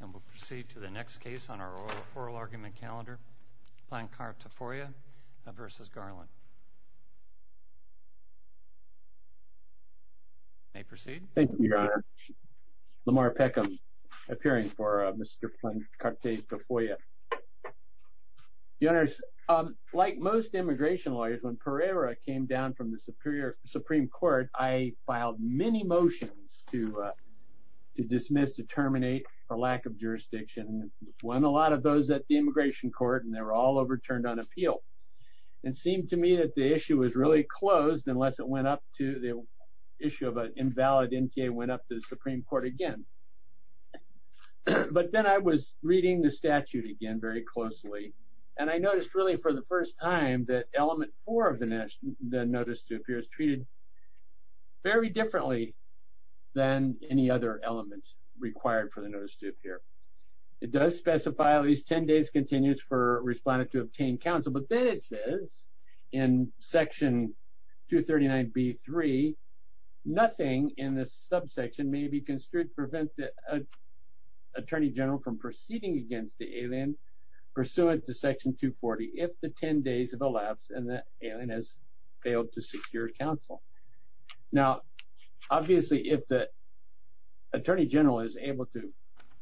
And we'll proceed to the next case on our oral argument calendar, Plancarte-Tofolla v. Garland. You may proceed. Thank you, Your Honor. Lamar Peckham appearing for Mr. Plancarte-Tofolla. Your Honors, like most immigration lawyers, when Pereira came down from the Supreme Court, I filed many motions to dismiss, to terminate the lack of jurisdiction, won a lot of those at the immigration court, and they were all overturned on appeal. It seemed to me that the issue was really closed unless it went up to the issue of an invalid NTA went up to the Supreme Court again. But then I was reading the statute again very closely, and I noticed really for the first time that element four of the notice to appear is treated very differently than any other element required for the notice to appear. It does specify at least 10 days continues for respondent to obtain counsel, but then it says in section 239b-3, nothing in this subsection may be construed to prevent the attorney general from proceeding against the alien pursuant to section 240 if the 10 days have elapsed and the alien has failed to secure counsel. Now, obviously, if the attorney general is able to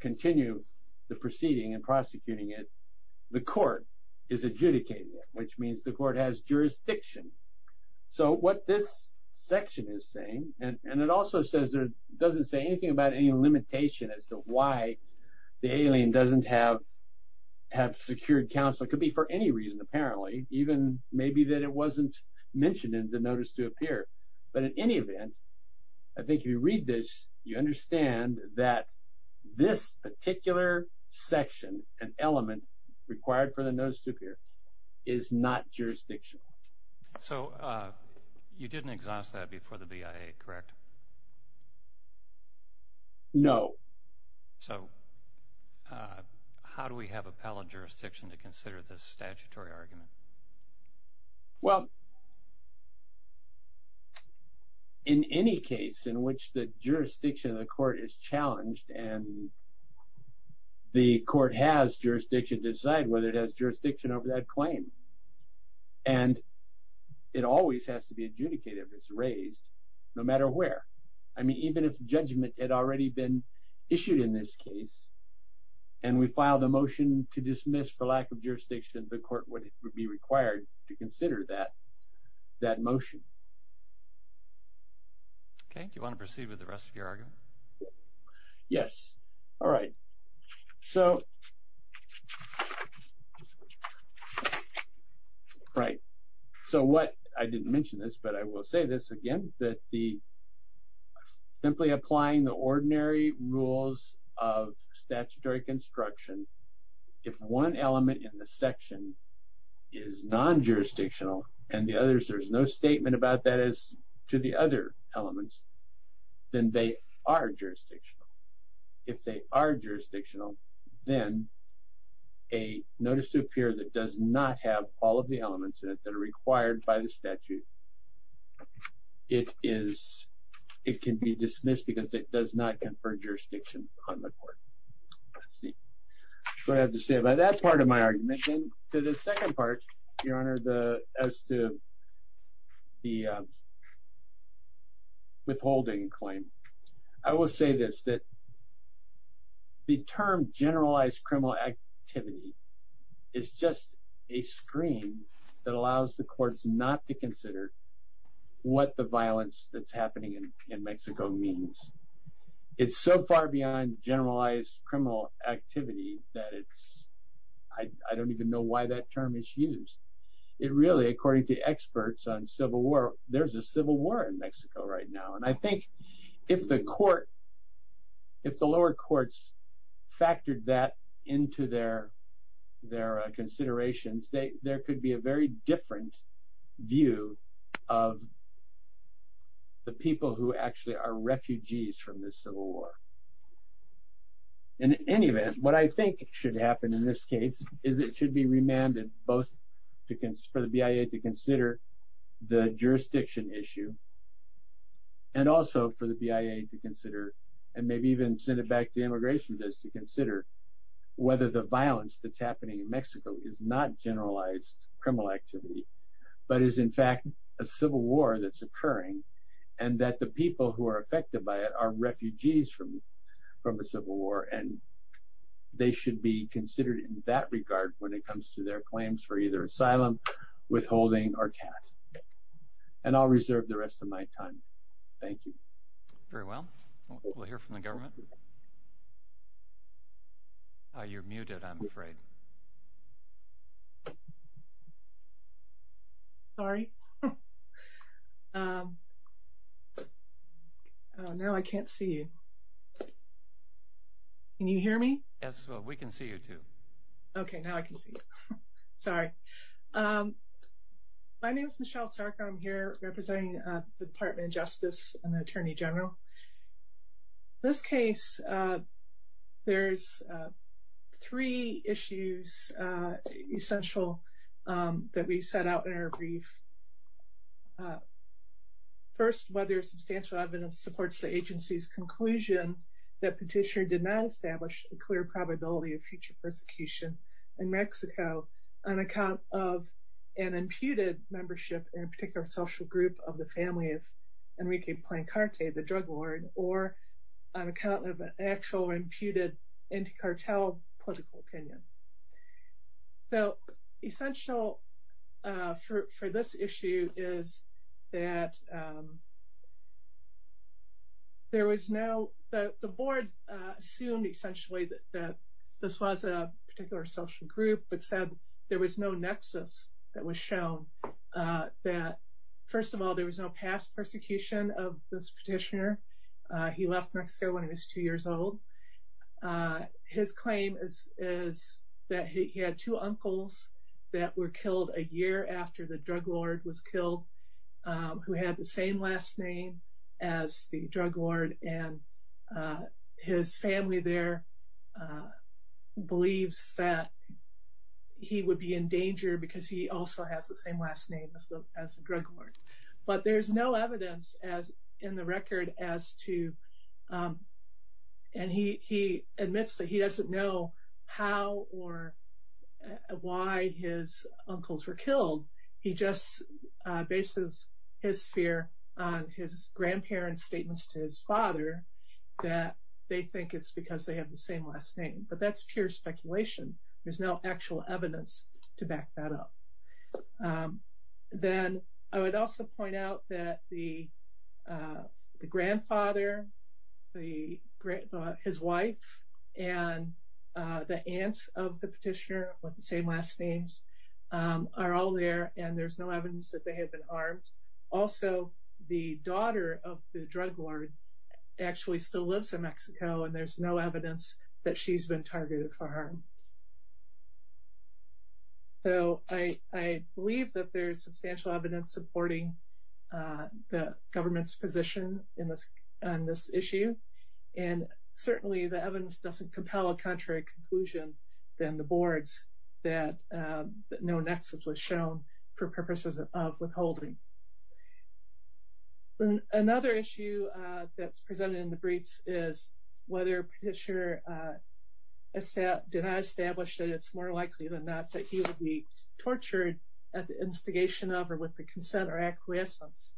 continue the proceeding and prosecuting it, the court is adjudicated, which means the court has jurisdiction. So what this section is saying, and it also says there doesn't say anything about any limitation as to why the alien doesn't have secured counsel. It could be for any reason, apparently, even maybe that it wasn't mentioned in the notice to appear. But in any event, I think if you read this, you understand that this particular section and element required for the notice to appear is not jurisdictional. So you didn't exhaust that before the BIA, correct? No. So how do we have appellate jurisdiction to consider this statutory argument? Well, in any case in which the jurisdiction of the court is challenged and the court has jurisdiction to decide whether it has jurisdiction over that claim, and it always has to be adjudicated as raised, no matter where. I mean, even if judgment had already been issued in this case, and we filed a motion to dismiss for lack of jurisdiction, the court would be required to consider that motion. Okay. Do you want to proceed with the rest of your argument? Yes. All right. So what I didn't mention this, but I will say this again, that the simply applying the ordinary rules of statutory construction, if one element in the section is non-jurisdictional and the others, there's no statement about that as to the other elements, then they are jurisdictional. If they are jurisdictional, then a notice to appear that does not have all of the elements in it that are required by the statute, it can be dismissed because it does not confer jurisdiction on the court. Let's see. So I have to say by that part of my argument, then to the second part, your honor, as to the withholding claim, I will say this, that the term generalized criminal activity is just a screen that allows the courts not to consider what the violence that's happening in Mexico means. It's so far beyond generalized criminal activity that it's, I don't even know why that term is used. It really, according to experts on civil war, there's a civil war in Mexico right now. And I think if the court, if the lower courts factored that into their considerations, there could be a very different view of the people who actually are refugees from this civil war. In any event, what I think should happen in this case is it should be remanded both for the BIA to consider the jurisdiction issue and also for the BIA to consider, and maybe even send it back to immigration just to consider whether the violence that's happening in Mexico is not generalized criminal activity, but is in fact a civil war that's occurring and that the people who are affected by it are refugees from a civil war. And they should be considered in that regard when it comes to their claims for either asylum, withholding, or tax. And I'll reserve the rest of my time. Thank you. Very well. We'll hear from the government. You're muted, I'm afraid. Sorry. Now I can't see you. Can you hear me? Yes, we can see you too. Okay, now I can see you. Sorry. My name is Michelle Sarkar. I'm here representing the Department of Justice and Immigration. In this case, there's three issues essential that we set out in our brief. First, whether substantial evidence supports the agency's conclusion that petitioner did not establish a clear probability of future persecution in Mexico on account of an imputed membership in a particular social group of the family of the drug lord, or on account of an actual imputed anti-cartel political opinion. So essential for this issue is that there was no, the board assumed essentially that this was a particular social group, but said there was no nexus that was shown. That first of all, there was no past persecution of this petitioner. He left Mexico when he was two years old. His claim is that he had two uncles that were killed a year after the drug lord was killed, who had the same last name as the drug lord. And his family there believes that he would be in danger because he also has the same last name as the drug lord. But there's no evidence as in the record as to, and he admits that he doesn't know how or why his uncles were killed. He just bases his fear on his grandparents' statements to his father that they think it's they have the same last name, but that's pure speculation. There's no actual evidence to back that up. Then I would also point out that the grandfather, his wife, and the aunts of the petitioner with the same last names are all there, and there's no evidence that they had been armed. Also the daughter of the drug lord actually still lives in Mexico, and there's no evidence that she's been targeted for harm. So I believe that there's substantial evidence supporting the government's position on this issue, and certainly the evidence doesn't compel a contrary conclusion than the boards that no nexus was shown for purposes of withholding. Then another issue that's presented in the briefs is whether petitioner did not establish that it's more likely than not that he would be tortured at the instigation of or with the consent or acquiescence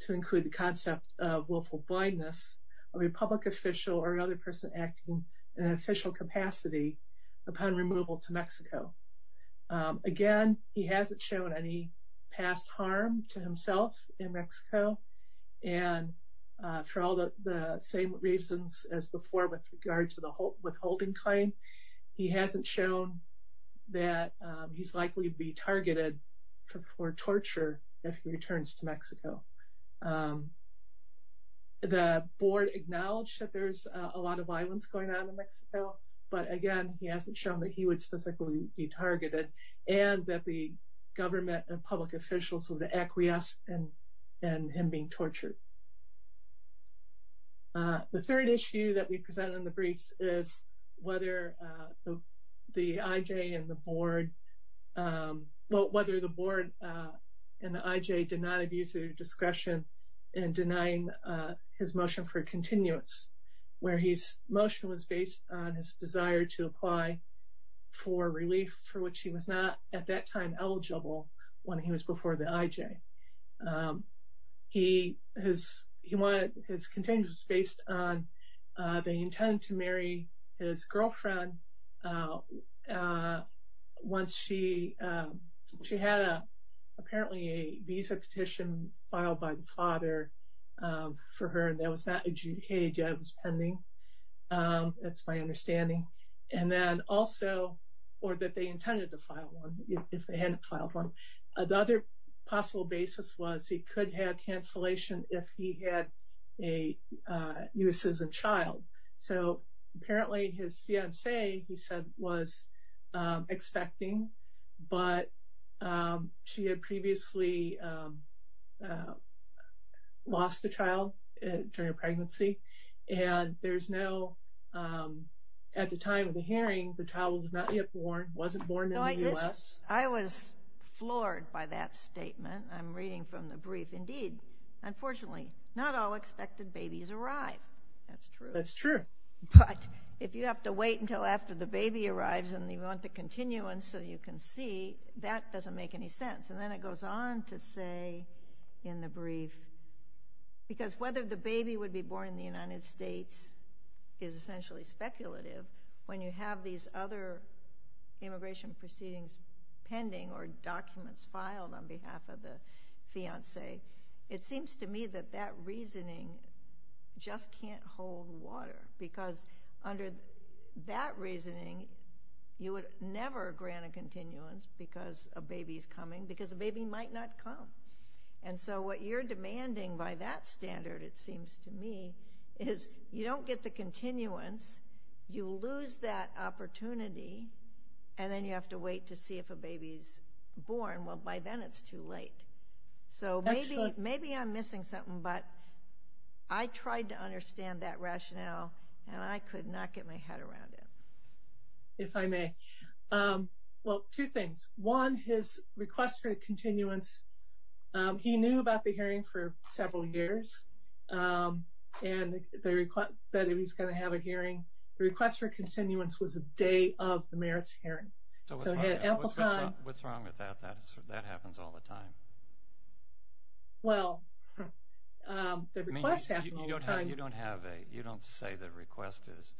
to include the concept of willful blindness of a public official or another person acting in an official capacity upon removal to Mexico. Again, he hasn't shown any past harm to himself in Mexico, and for all the same reasons as before with regard to the withholding claim, he hasn't shown that he's likely to be targeted for torture if he returns to Mexico. The board acknowledged that there's a lot of violence going on in Mexico, but again, he hasn't shown that he would specifically be targeted and that the government and public officials would acquiesce in him being tortured. The third issue that we presented in the briefs is whether the IJ and the board, well, whether the board and the IJ did not abuse their discretion in denying his motion for continuance, where his motion was based on his desire to apply for relief for which he was not at that time eligible when he was before the IJ. He wanted his continuance based on the intent to marry his girlfriend once she had apparently a visa petition filed by the father for her and that was not adjudicated as pending. That's my understanding. And then also, or that they intended to file one if they hadn't filed one. Another possible basis was he could have cancellation if he had a U.S. citizen child. So apparently his fiancee, he said, was expecting, but she had previously lost a child during a pregnancy and there's no, at the time of the hearing, the child was not yet born, wasn't born in the U.S. I was floored by that statement. I'm reading from the brief. Indeed, unfortunately, not all expected babies arrive. That's true. That's true. But if you have to wait until after the baby arrives and you want the continuance so you can see, that doesn't make any sense. And then it goes on to say in the brief, because whether the baby would be born in the United States is essentially speculative, when you have these other immigration proceedings pending or documents filed on behalf of the fiancee, it seems to me that that reasoning just can't hold water. Because under that reasoning, you would never grant a continuance because a baby is coming, because a baby might not come. And so what you're demanding by that standard, it seems to me, is you don't get the continuance, you lose that opportunity, and then you have to wait to see if a baby's born. Well, by then it's too late. So maybe I'm missing something, but I tried to understand that rationale and I could not get my head around it. If I may. Well, two things. One, his request for a continuance, he knew about the hearing for several years and the request that he was going to have a hearing. The request for continuance was the day of the merits hearing. So what's wrong with that? That happens all the time. Well, the request happens all the time. You don't say the request is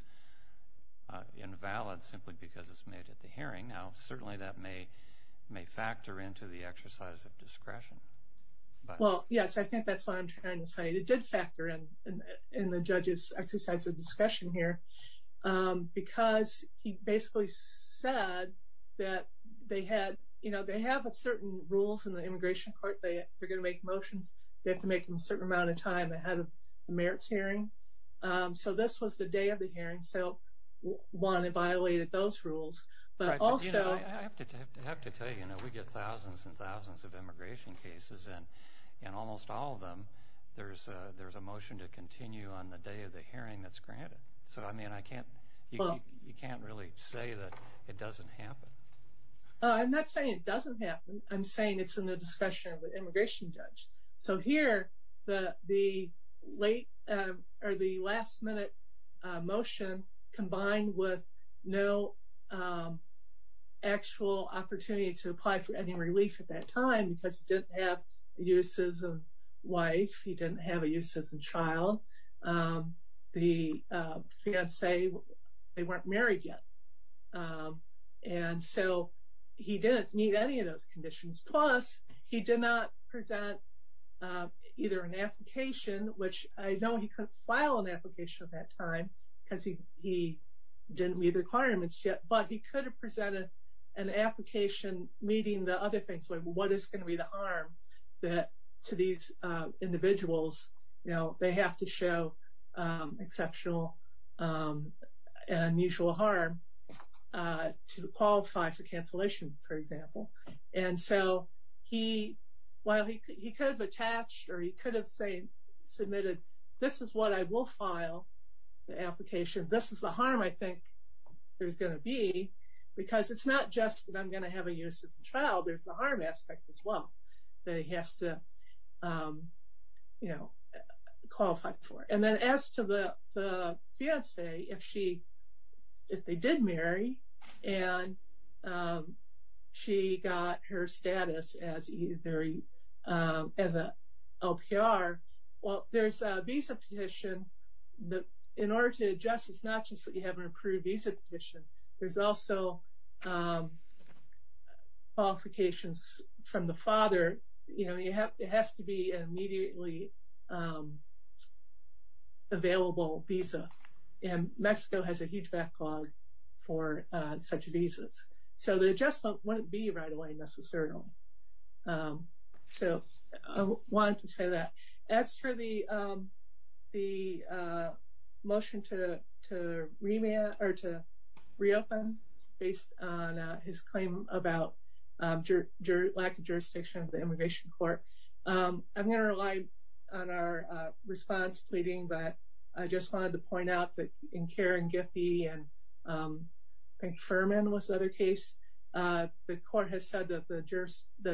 invalid simply because it's made at the hearing. Now, certainly that may factor into the exercise of discretion. Well, yes, I think that's what I'm trying to say. It did factor in the judge's exercise of discretion here because he basically said that they have a certain rules in the immigration court. They're going to make motions. They have to make them a certain amount of time ahead of the merits hearing. So this was the day of the hearing. So, one, it violated those rules, but also... I have to tell you, we get thousands and thousands of immigration cases, and in almost all of them, there's a motion to continue on the day of the hearing that's granted. So, I mean, you can't really say that it doesn't happen. I'm not saying it doesn't happen. I'm saying it's in the discretion of the immigration judge. So here, the last-minute motion combined with no actual opportunity to apply for any relief at that time because he didn't have the uses of wife. He didn't have a use as a child. The fiance, they weren't married yet, and so he didn't meet any of those conditions. Plus, he did not present either an application, which I know he couldn't file an application at that time because he didn't meet the requirements yet, but he could have presented an application meeting the other things, like what is going to be the harm to these individuals. They have to show exceptional and unusual harm to qualify for cancellation, for example, and so he could have attached or he could have submitted, this is what I will file the application. This is the harm I think there's going to be because it's not just that I'm going to have a use as a child. There's the harm aspect as well that he has to qualify for, and then as to the fiance, if they did marry and she got her status as a LPR, well, there's a visa petition that in order to adjust, it's not just that you know, it has to be an immediately available visa, and Mexico has a huge backlog for such visas, so the adjustment wouldn't be right away necessarily, so I wanted to say that. As for the immigration court, I'm going to rely on our response pleading, but I just wanted to point out that in Karen Giffey and I think Furman was the other case, the court has said that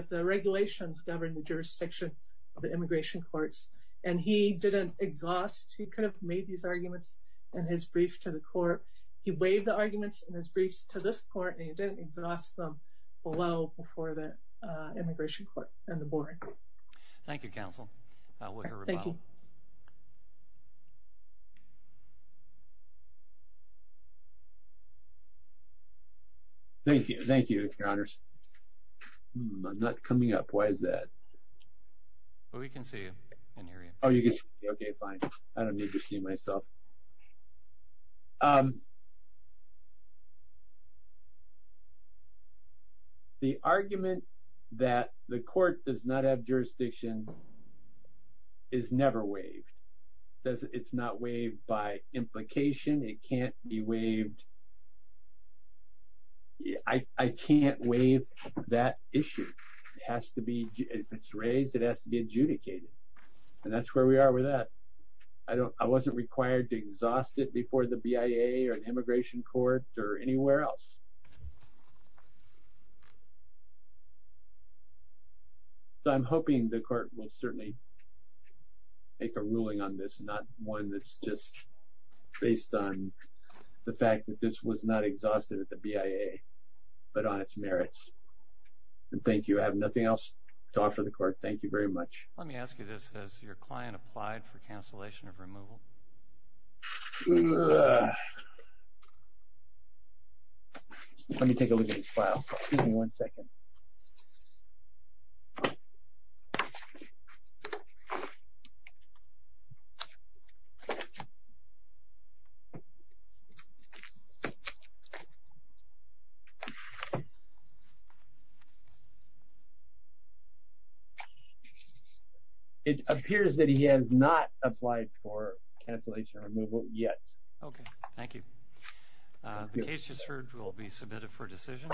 the regulations govern the jurisdiction of the immigration courts, and he didn't exhaust, he could have made these arguments in his brief to the court. He waived the arguments in his briefs to this court, and he didn't exhaust them well before the immigration court and the board. Thank you, counsel. Thank you. Thank you, your honors. I'm not coming up. Why is that? Well, we can see you and hear you. Okay, fine. I don't need to see myself. The argument that the court does not have jurisdiction is never waived. It's not waived by implication. It can't be waived. I can't waive that issue. It has to be, if it's raised, it has to be adjudicated, and that's where we are with that. I wasn't required to exhaust it before the BIA or an immigration court or anywhere else. So, I'm hoping the court will certainly make a ruling on this, not one that's just based on the fact that this was not exhausted at the BIA, but on its merits. And thank you. I have nothing else to offer the court. Thank you very much. Let me ask you this. Has your client applied for cancellation of removal? Let me take a look at his file. Give me one second. Okay. It appears that he has not applied for cancellation of removal yet. Okay. Thank you. The case just heard will be submitted for decision.